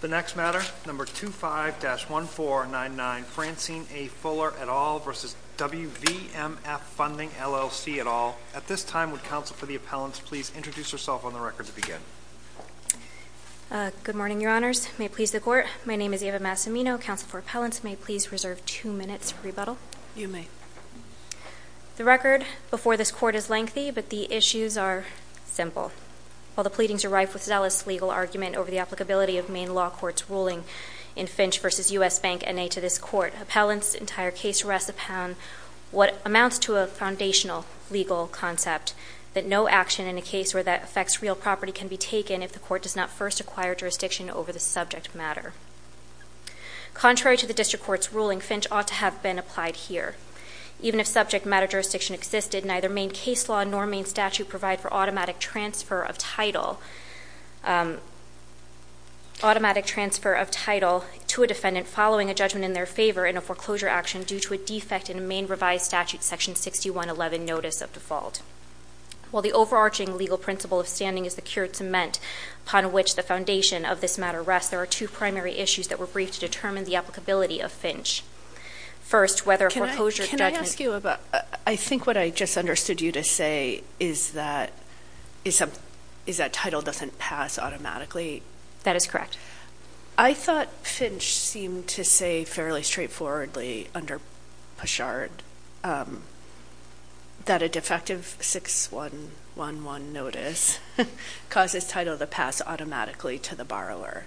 The next matter, number 25-1499, Francine A. Fuller et al. v. WVMF Funding, LLC et al. At this time, would counsel for the appellants please introduce yourself on the record to begin? Good morning, your honors. May it please the court, my name is Eva Massimino, counsel for appellants. May it please reserve two minutes for rebuttal? You may. The record before this court is lengthy, but the issues are simple. While the pleadings are rife with zealous legal argument over the applicability of Maine law court's ruling in Finch v. US Bank NA to this court, appellants' entire case rests upon what amounts to a foundational legal concept. That no action in a case where that affects real property can be taken if the court does not first acquire jurisdiction over the subject matter. Contrary to the district court's ruling, Finch ought to have been applied here. Even if subject matter jurisdiction existed, neither Maine case law nor Maine statute provide for automatic transfer of title. Automatic transfer of title to a defendant following a judgment in their favor in a foreclosure action due to a defect in a Maine revised statute section 6111 notice of default. While the overarching legal principle of standing is the cured cement upon which the foundation of this matter rests, there are two primary issues that were briefed to determine the applicability of Finch. First, whether a foreclosure judgment- Can I ask you about, I think what I just understood you to say is that title doesn't pass automatically. That is correct. I thought Finch seemed to say fairly straightforwardly under Peshard that a defective 6111 notice causes title to pass automatically to the borrower.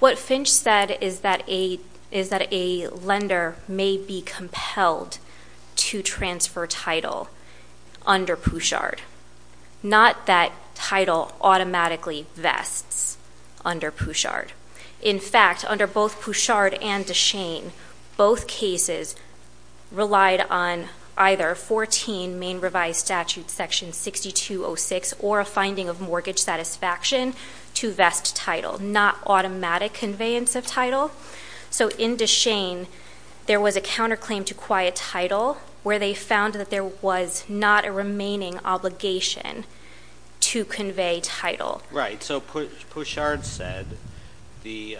What Finch said is that a lender may be compelled to transfer title under Peshard. Not that title automatically vests under Peshard. In fact, under both Peshard and DeShane, both cases relied on either 14 Maine revised statute section 6206 or a finding of mortgage satisfaction to vest title, not automatic conveyance of title. So in DeShane, there was a counterclaim to quiet title where they found that there was not a remaining obligation to convey title. Right, so Peshard said the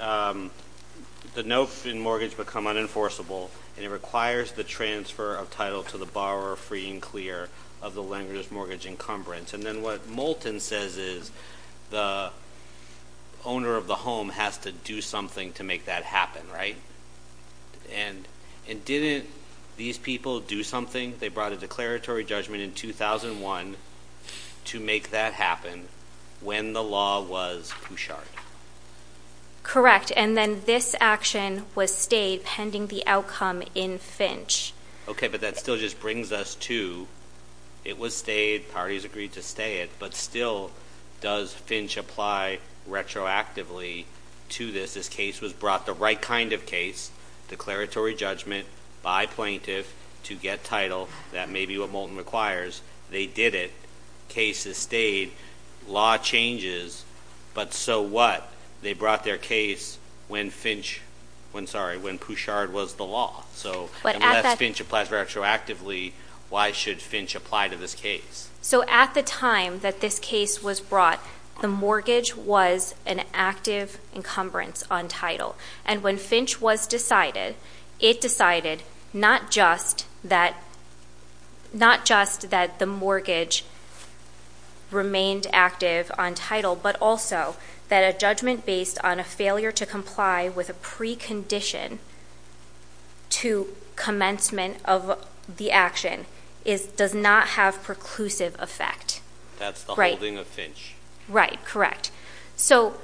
note in mortgage would become unenforceable and it requires the transfer of title to the borrower free and clear of the lender's mortgage encumbrance. And then what Moulton says is the owner of the home has to do something to make that happen, right? And didn't these people do something? They brought a declaratory judgment in 2001 to make that happen when the law was Peshard. Correct, and then this action was stayed pending the outcome in Finch. Okay, but that still just brings us to, it was stayed, parties agreed to stay it, but still does Finch apply retroactively to this? This case was brought the right kind of case, declaratory judgment by plaintiff to get title. That may be what Moulton requires. They did it. Case is stayed. Law changes, but so what? They brought their case when Peshard was the law. So, unless Finch applies retroactively, why should Finch apply to this case? So, at the time that this case was brought, the mortgage was an active encumbrance on title. And when Finch was decided, it decided not just that the mortgage remained active on title, but also that a judgment based on a failure to comply with a precondition to commencement of the action does not have preclusive effect. That's the holding of Finch. Right, correct. So,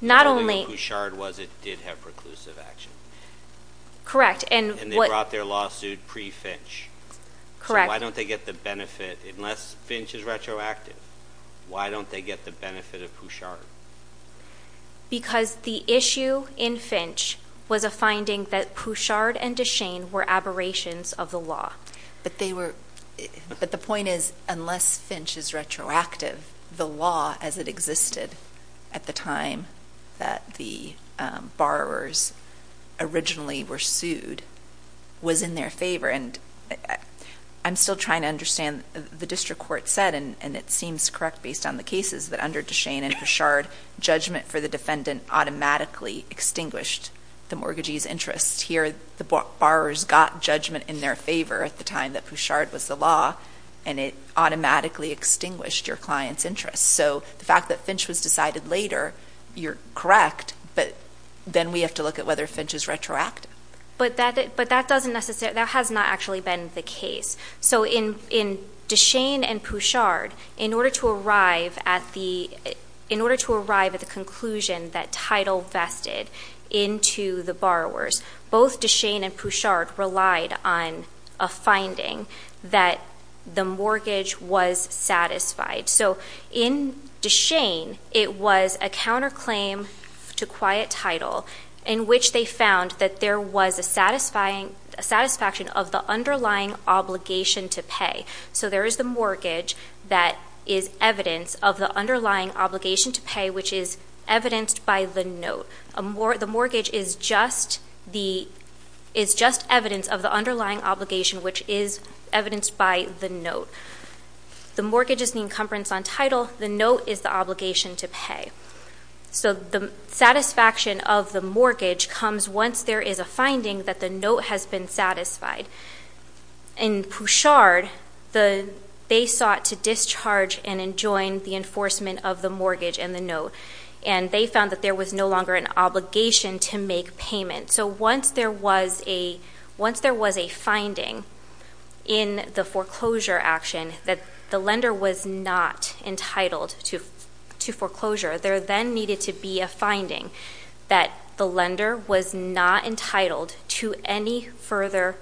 not only- Peshard was, it did have preclusive action. Correct, and what- And they brought their lawsuit pre-Finch. Correct. So why don't they get the benefit, unless Finch is retroactive, why don't they get the benefit of Peshard? Because the issue in Finch was a finding that Peshard and DeShane were aberrations of the law. But they were, but the point is, unless Finch is retroactive, the law as it existed at the time that the borrowers originally were sued was in their favor. And I'm still trying to understand, the district court said, and it seems correct based on the cases, that under DeShane and Peshard, judgment for the defendant automatically extinguished the mortgagee's interest. Here, the borrowers got judgment in their favor at the time that Peshard was the law, and it automatically extinguished your client's interest. So, the fact that Finch was decided later, you're correct, but then we have to look at whether Finch is retroactive. But that doesn't necessarily, that has not actually been the case. So, in DeShane and Peshard, in order to arrive at the, in order to arrive at the conclusion that title vested into the borrowers, both DeShane and Peshard relied on a finding that the mortgage was satisfied. So, in DeShane, it was a counterclaim to quiet title, in which they found that there was a satisfaction of the underlying obligation to pay. So, there is the mortgage that is evidence of the underlying obligation to pay, which is evidenced by the note. The mortgage is just evidence of the underlying obligation, which is evidenced by the note. The mortgage is the encumbrance on title, the note is the obligation to pay. So, the satisfaction of the mortgage comes once there is a finding that the note has been satisfied. In Peshard, they sought to discharge and enjoin the enforcement of the mortgage and the note. And they found that there was no longer an obligation to make payment. So, once there was a finding in the foreclosure action, that the lender was not entitled to foreclosure, there then needed to be a finding that the lender was not entitled to any further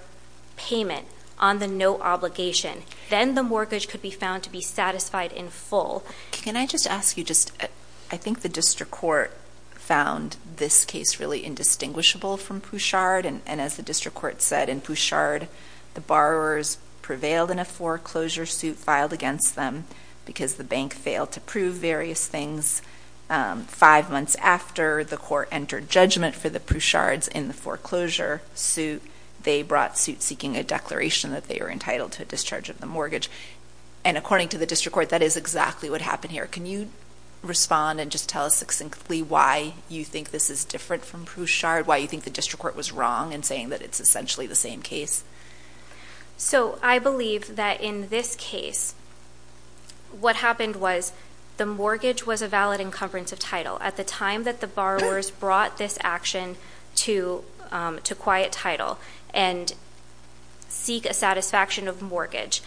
payment on the note obligation. Then the mortgage could be found to be satisfied in full. Can I just ask you just, I think the district court found this case really indistinguishable from Peshard. And as the district court said, in Peshard, the borrowers prevailed in a foreclosure suit filed against them because the bank failed to prove various things. Five months after the court entered judgment for the Peshards in the foreclosure suit, they brought suit seeking a declaration that they were entitled to a discharge of the mortgage. And according to the district court, that is exactly what happened here. Can you respond and just tell us succinctly why you think this is different from Peshard? Why you think the district court was wrong in saying that it's essentially the same case? So, I believe that in this case, what happened was the mortgage was a valid encumbrance of title. At the time that the borrowers brought this action to quiet title and seek a satisfaction of mortgage,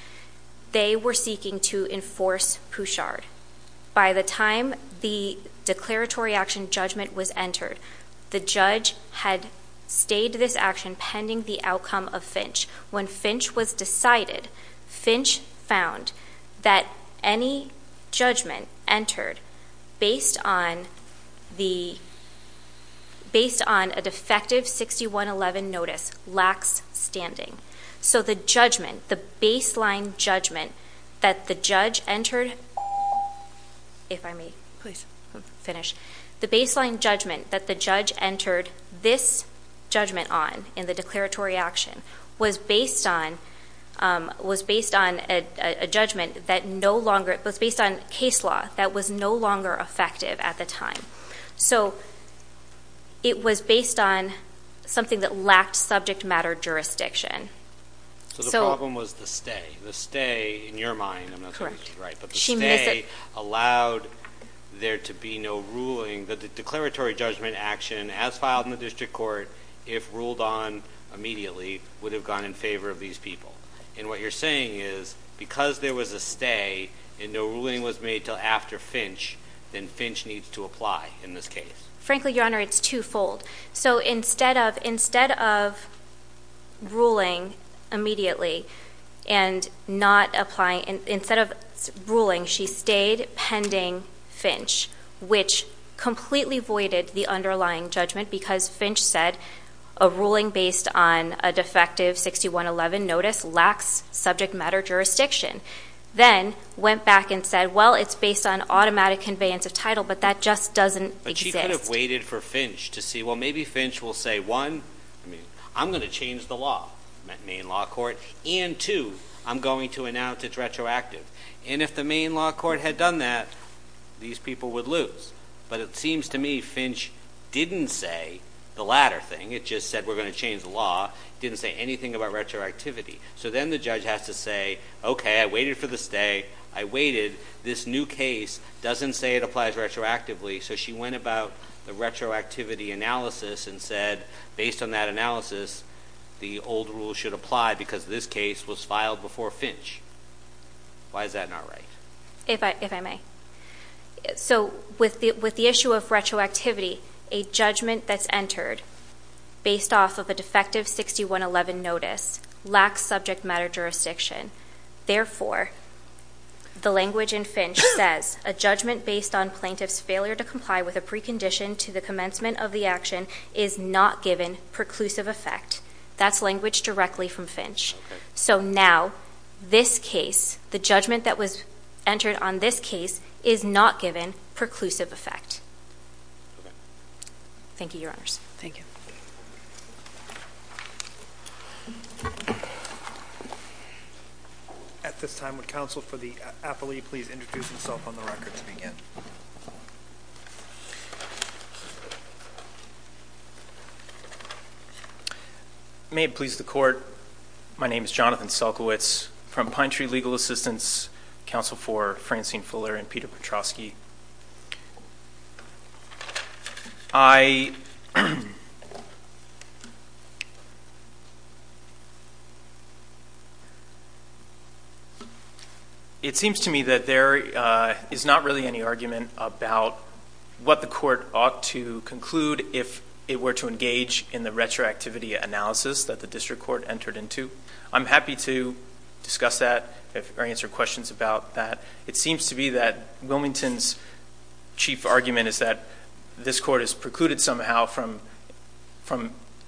they were seeking to enforce Peshard. By the time the declaratory action judgment was entered, the judge had stayed this action pending the outcome of Finch. When Finch was decided, Finch found that any judgment entered based on a defective 6111 notice, lacks standing. So the judgment, the baseline judgment that the judge entered, if I may. Please. Finish. The baseline judgment that the judge entered this judgment on in the declaratory action was based on a judgment that no longer, it was based on case law that was no longer effective at the time. So it was based on something that lacked subject matter jurisdiction. So- So the problem was the stay. The stay, in your mind, I'm not sure if this is right, but the stay allowed there to be no ruling that the declaratory judgment action as filed in the district court, if ruled on immediately, would have gone in favor of these people. And what you're saying is, because there was a stay and no ruling was made till after Finch, then Finch needs to apply in this case. Frankly, your honor, it's twofold. So instead of, instead of ruling immediately and not applying, instead of ruling, she stayed pending Finch, which completely voided the underlying judgment because Finch said a ruling based on a defective 6111 notice lacks subject matter jurisdiction. Then went back and said, well, it's based on automatic conveyance of title, but that just doesn't exist. But she could have waited for Finch to see, well, maybe Finch will say, one, I'm going to change the law, main law court, and two, I'm going to announce it's retroactive. And if the main law court had done that, these people would lose. But it seems to me Finch didn't say the latter thing. It just said we're going to change the law, didn't say anything about retroactivity. So then the judge has to say, okay, I waited for the stay, I waited. This new case doesn't say it applies retroactively, so she went about the retroactivity analysis and said, based on that analysis, the old rule should apply because this case was filed before Finch. Why is that not right? If I may. So with the issue of retroactivity, a judgment that's entered based off of a defective 6111 notice lacks subject matter jurisdiction. Therefore, the language in Finch says, a judgment based on plaintiff's failure to comply with a precondition to the commencement of the action is not given preclusive effect, that's language directly from Finch. So now, this case, the judgment that was entered on this case, is not given preclusive effect. Thank you, your honors. Thank you. At this time, would counsel for the appellee please introduce himself on the record to begin? May it please the court, my name is Jonathan Selkowitz from Pine Tree Legal Assistance. Counsel for Francine Fuller and Peter Petrosky. It seems to me that there is not really any argument about what the court ought to conclude if it were to engage in the retroactivity analysis that the district court entered into. I'm happy to discuss that or answer questions about that. It seems to me that Wilmington's chief argument is that this court is precluded somehow from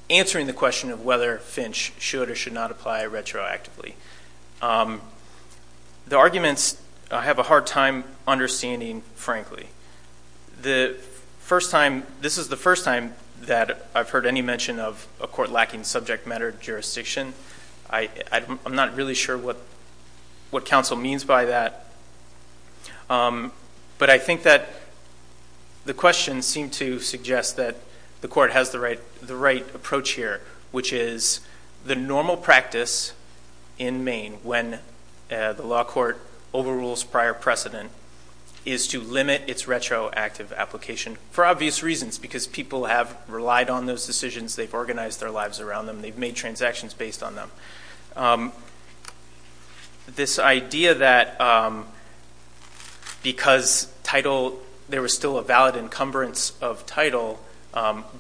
answering the question of whether Finch should or should not apply retroactively. The arguments, I have a hard time understanding, frankly. The first time, this is the first time that I've heard any mention of a court lacking subject matter jurisdiction. I'm not really sure what counsel means by that. But I think that the questions seem to suggest that the court has the right approach here, which is the normal practice in Maine when the law court overrules prior precedent is to limit its retroactive application for obvious reasons, because people have relied on those decisions. They've organized their lives around them. They've made transactions based on them. This idea that because title, there was still a valid encumbrance of title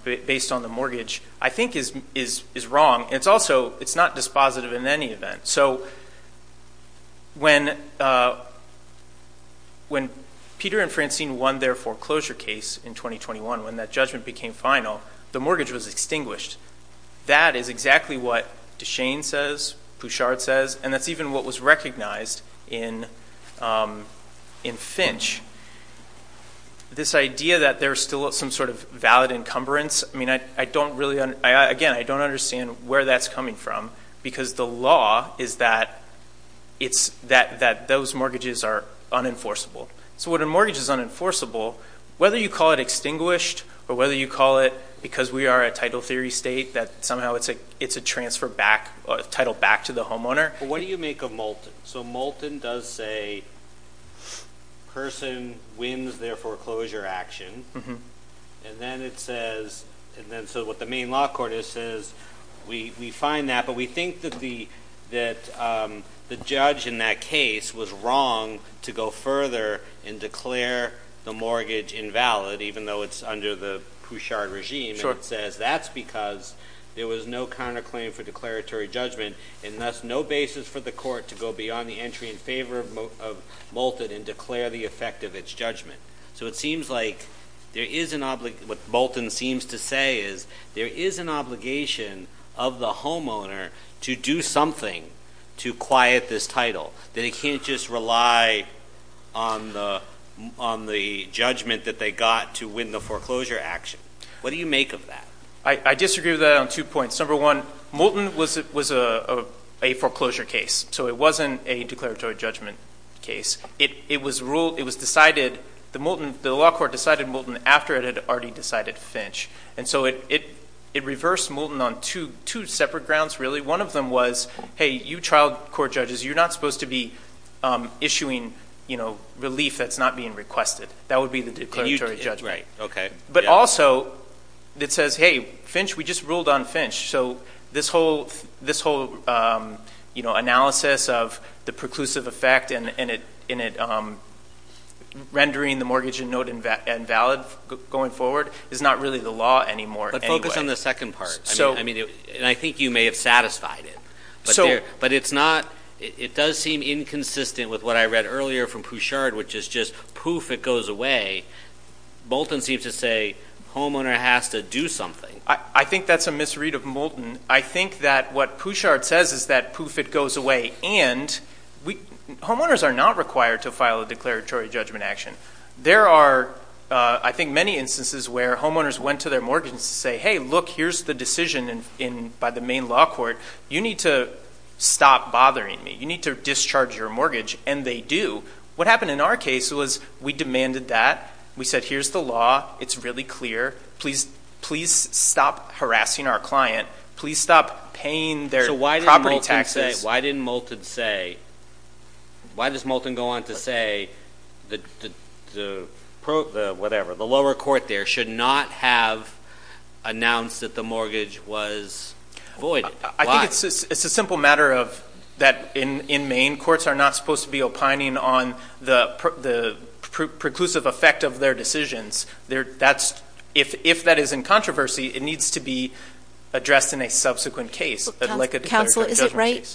based on the mortgage, I think is wrong. It's also, it's not dispositive in any event. So when Peter and Francine won their foreclosure case in 2021, when that judgment became final, the mortgage was extinguished. That is exactly what Duchesne says, Pouchard says, and that's even what was recognized in Finch. This idea that there's still some sort of valid encumbrance, I mean, I don't really, again, I don't understand where that's coming from, because the law is that those mortgages are unenforceable. So when a mortgage is unenforceable, whether you call it extinguished, or whether you call it, because we are a title theory state, that somehow it's a transfer back, title back to the homeowner. What do you make of Moulton? So Moulton does say, person wins their foreclosure action, and then it says, and then so what the main law court is says, we find that, but we think that the judge in that case was wrong to go further and declare the mortgage invalid, even though it's under the Pouchard regime. And it says that's because there was no counterclaim for declaratory judgment, and thus no basis for the court to go beyond the entry in favor of Moulton and declare the effect of its judgment. So it seems like there is an, what Moulton seems to say is, there is an obligation of the homeowner to do something to quiet this title. That it can't just rely on the judgment that they got to win the foreclosure action. What do you make of that? I disagree with that on two points. Number one, Moulton was a foreclosure case, so it wasn't a declaratory judgment case. It was decided, the law court decided Moulton after it had already decided Finch. And so it reversed Moulton on two separate grounds, really. One of them was, hey, you trial court judges, you're not supposed to be issuing relief that's not being requested. That would be the declaratory judgment. Right, okay. But also, it says, hey, Finch, we just ruled on Finch. So this whole analysis of the preclusive effect, and it rendering the mortgage and note invalid going forward, is not really the law anymore anyway. But focus on the second part, and I think you may have satisfied it. But it's not, it does seem inconsistent with what I read earlier from Pouchard, which is just, poof, it goes away. Moulton seems to say, homeowner has to do something. I think that's a misread of Moulton. I think that what Pouchard says is that, poof, it goes away. And homeowners are not required to file a declaratory judgment action. There are, I think, many instances where homeowners went to their mortgage and say, hey, look, here's the decision by the main law court, you need to stop bothering me. You need to discharge your mortgage, and they do. What happened in our case was, we demanded that. We said, here's the law, it's really clear, please stop harassing our client. Please stop paying their property taxes. Why does Moulton go on to say that the, whatever, the lower court there should not have announced that the mortgage was voided, why? I think it's a simple matter of that in Maine, courts are not supposed to be opining on the preclusive effect of their decisions, if that is in controversy, it needs to be addressed in a subsequent case, like a declaratory judgment case. Counsel,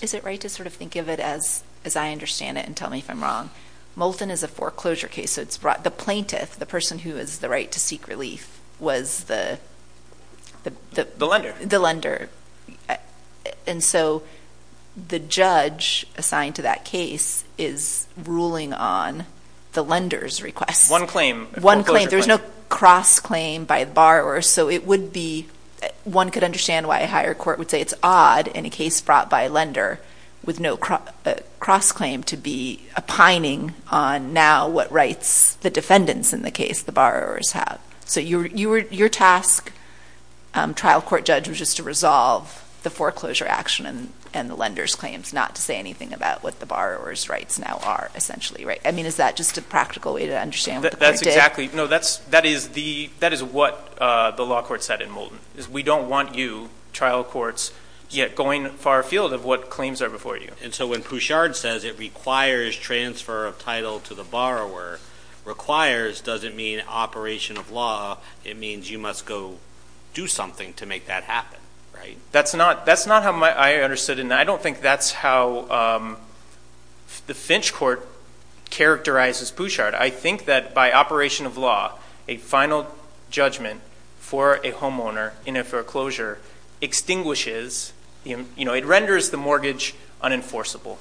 is it right to sort of think of it as I understand it, and tell me if I'm wrong. Moulton is a foreclosure case, so the plaintiff, the person who has the right to seek relief, was the- The lender. The lender. And so, the judge assigned to that case is ruling on the lender's request. One claim. One claim. There's no cross-claim by the borrower, so it would be, one could understand why a higher court would say it's odd in a case brought by a lender, with no cross-claim to be opining on now what rights the defendants in the case, the borrowers, have. So your task, trial court judge, was just to resolve the foreclosure action and the lender's claims, not to say anything about what the borrower's rights now are, essentially, right? I mean, is that just a practical way to understand what the court did? Exactly, no, that is what the law court said in Moulton, is we don't want you, trial courts, yet going far afield of what claims are before you. And so when Pouchard says it requires transfer of title to the borrower, requires doesn't mean operation of law, it means you must go do something to make that happen, right? That's not how I understood it, and I don't think that's how the Finch Court characterizes Pouchard. I think that by operation of law, a final judgment for a homeowner in a foreclosure extinguishes, it renders the mortgage unenforceable.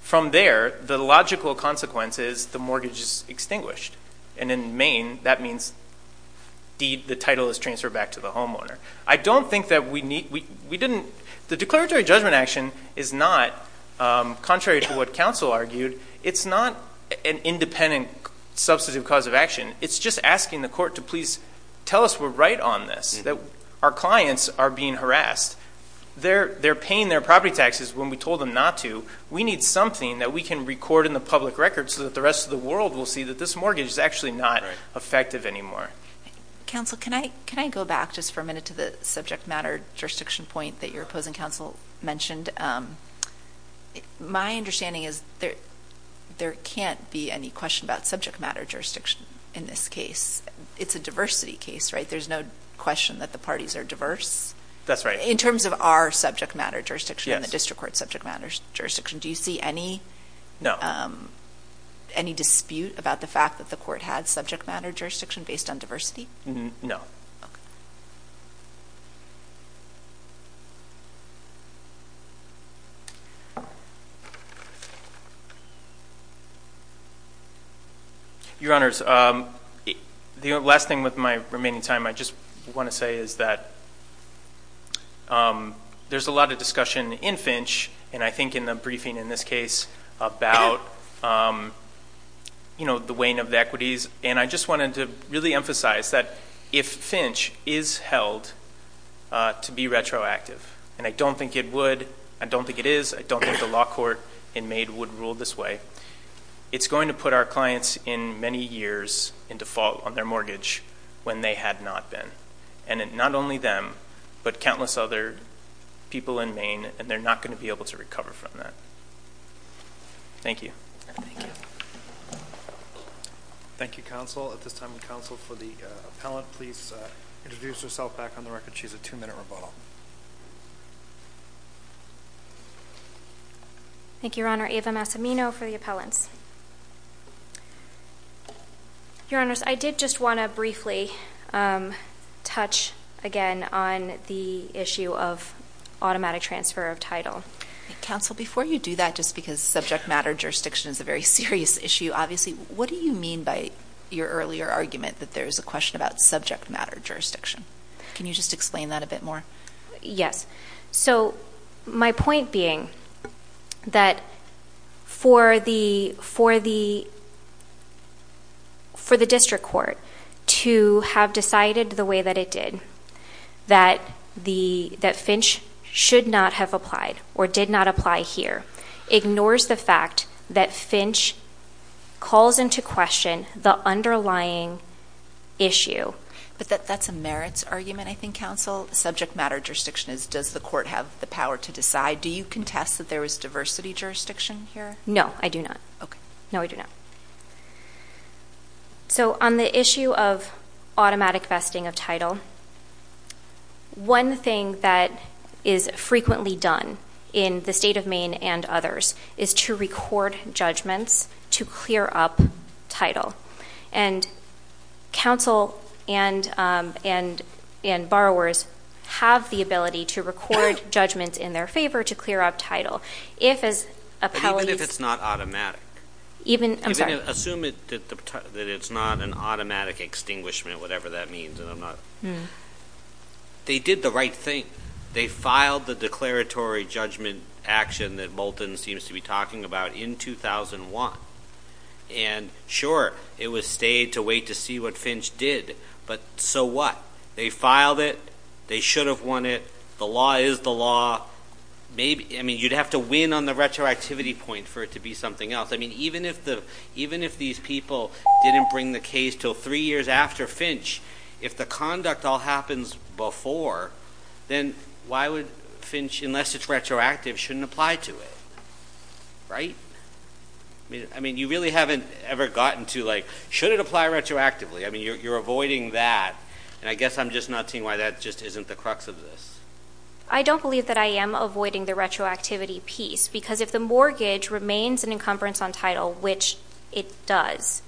From there, the logical consequence is the mortgage is extinguished. And in Maine, that means the title is transferred back to the homeowner. I don't think that we need, we didn't, the declaratory judgment action is not, contrary to what counsel argued, it's not an independent substantive cause of action. It's just asking the court to please tell us we're right on this, that our clients are being harassed. They're paying their property taxes when we told them not to. We need something that we can record in the public record so that the rest of the world will see that this mortgage is actually not effective anymore. Counsel, can I go back just for a minute to the subject matter jurisdiction point that your opposing counsel mentioned? My understanding is there can't be any question about subject matter jurisdiction in this case. It's a diversity case, right? There's no question that the parties are diverse. That's right. In terms of our subject matter jurisdiction and the district court's subject matter jurisdiction, do you see any- No. Any dispute about the fact that the court had subject matter jurisdiction based on diversity? Your Honors, the last thing with my remaining time I just want to say is that there's a lot of discussion in Finch, and I think in the briefing in this case, about the weighing of the equities. And I just wanted to really emphasize that if Finch is held to be retroactive, and I don't think it would, I don't think it is, I don't think the law court in Maid would rule this way. It's going to put our clients in many years in default on their mortgage when they had not been. And not only them, but countless other people in Maine, and they're not going to be able to recover from that. Thank you. Thank you. Thank you, counsel. At this time, counsel for the appellant, please introduce yourself back on the record. She has a two minute rebuttal. Thank you, Your Honor. Ava Massimino for the appellants. Your Honors, I did just want to briefly touch again on the issue of automatic transfer of title. Counsel, before you do that, just because subject matter jurisdiction is a very serious issue, obviously, what do you mean by your earlier argument that there's a question about subject matter jurisdiction? Can you just explain that a bit more? Yes. So, my point being that for the district court to have decided the way that it did, that Finch should not have applied or did not apply here, ignores the fact that Finch calls into question the underlying issue. But that's a merits argument, I think, counsel. Subject matter jurisdiction is, does the court have the power to decide? Do you contest that there is diversity jurisdiction here? No, I do not. No, I do not. So, on the issue of automatic vesting of title, one thing that is frequently done in the state of Maine and others is to record judgments to clear up title. And counsel and borrowers have the ability to record judgments in their favor to clear up title. If, as appellees- But even if it's not automatic? Even, I'm sorry. Assume that it's not an automatic extinguishment, whatever that means, and I'm not. They did the right thing. They filed the declaratory judgment action that Bolton seems to be talking about in 2001. And sure, it was stayed to wait to see what Finch did, but so what? They filed it, they should have won it, the law is the law. Maybe, I mean, you'd have to win on the retroactivity point for it to be something else. I mean, even if these people didn't bring the case till three years after Finch, if the conduct all happens before, then why would Finch, unless it's retroactive, shouldn't apply to it, right? I mean, you really haven't ever gotten to like, should it apply retroactively? I mean, you're avoiding that, and I guess I'm just not seeing why that just isn't the crux of this. I don't believe that I am avoiding the retroactivity piece, because if the mortgage remains an encumbrance on title, which it does.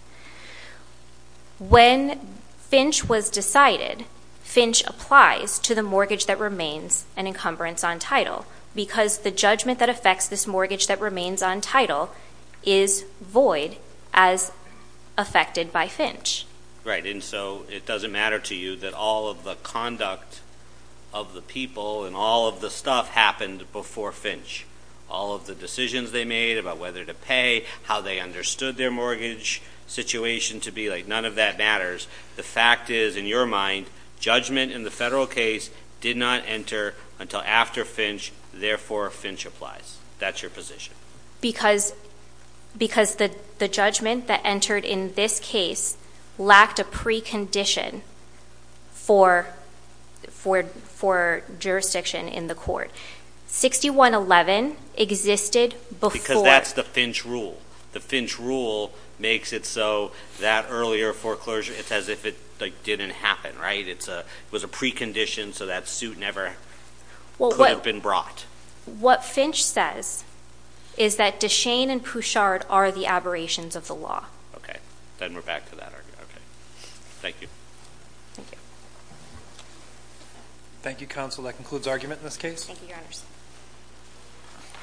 When Finch was decided, Finch applies to the mortgage that remains an encumbrance on title. Because the judgment that affects this mortgage that remains on title is void as affected by Finch. Right, and so it doesn't matter to you that all of the conduct of the people and all of the stuff happened before Finch, all of the decisions they made about whether to pay, how they understood their mortgage situation to be like, none of that matters. The fact is, in your mind, judgment in the federal case did not enter until after Finch, therefore Finch applies. That's your position. Because the judgment that entered in this case lacked a precondition for jurisdiction in the court. 6111 existed before- Because that's the Finch rule. The Finch rule makes it so that earlier foreclosure, it's as if it didn't happen, right? It was a precondition, so that suit never could have been brought. What Finch says is that DeShane and Pouchard are the aberrations of the law. Okay, then we're back to that argument, okay. Thank you. Thank you. Thank you, counsel. That concludes argument in this case. Thank you, your honors.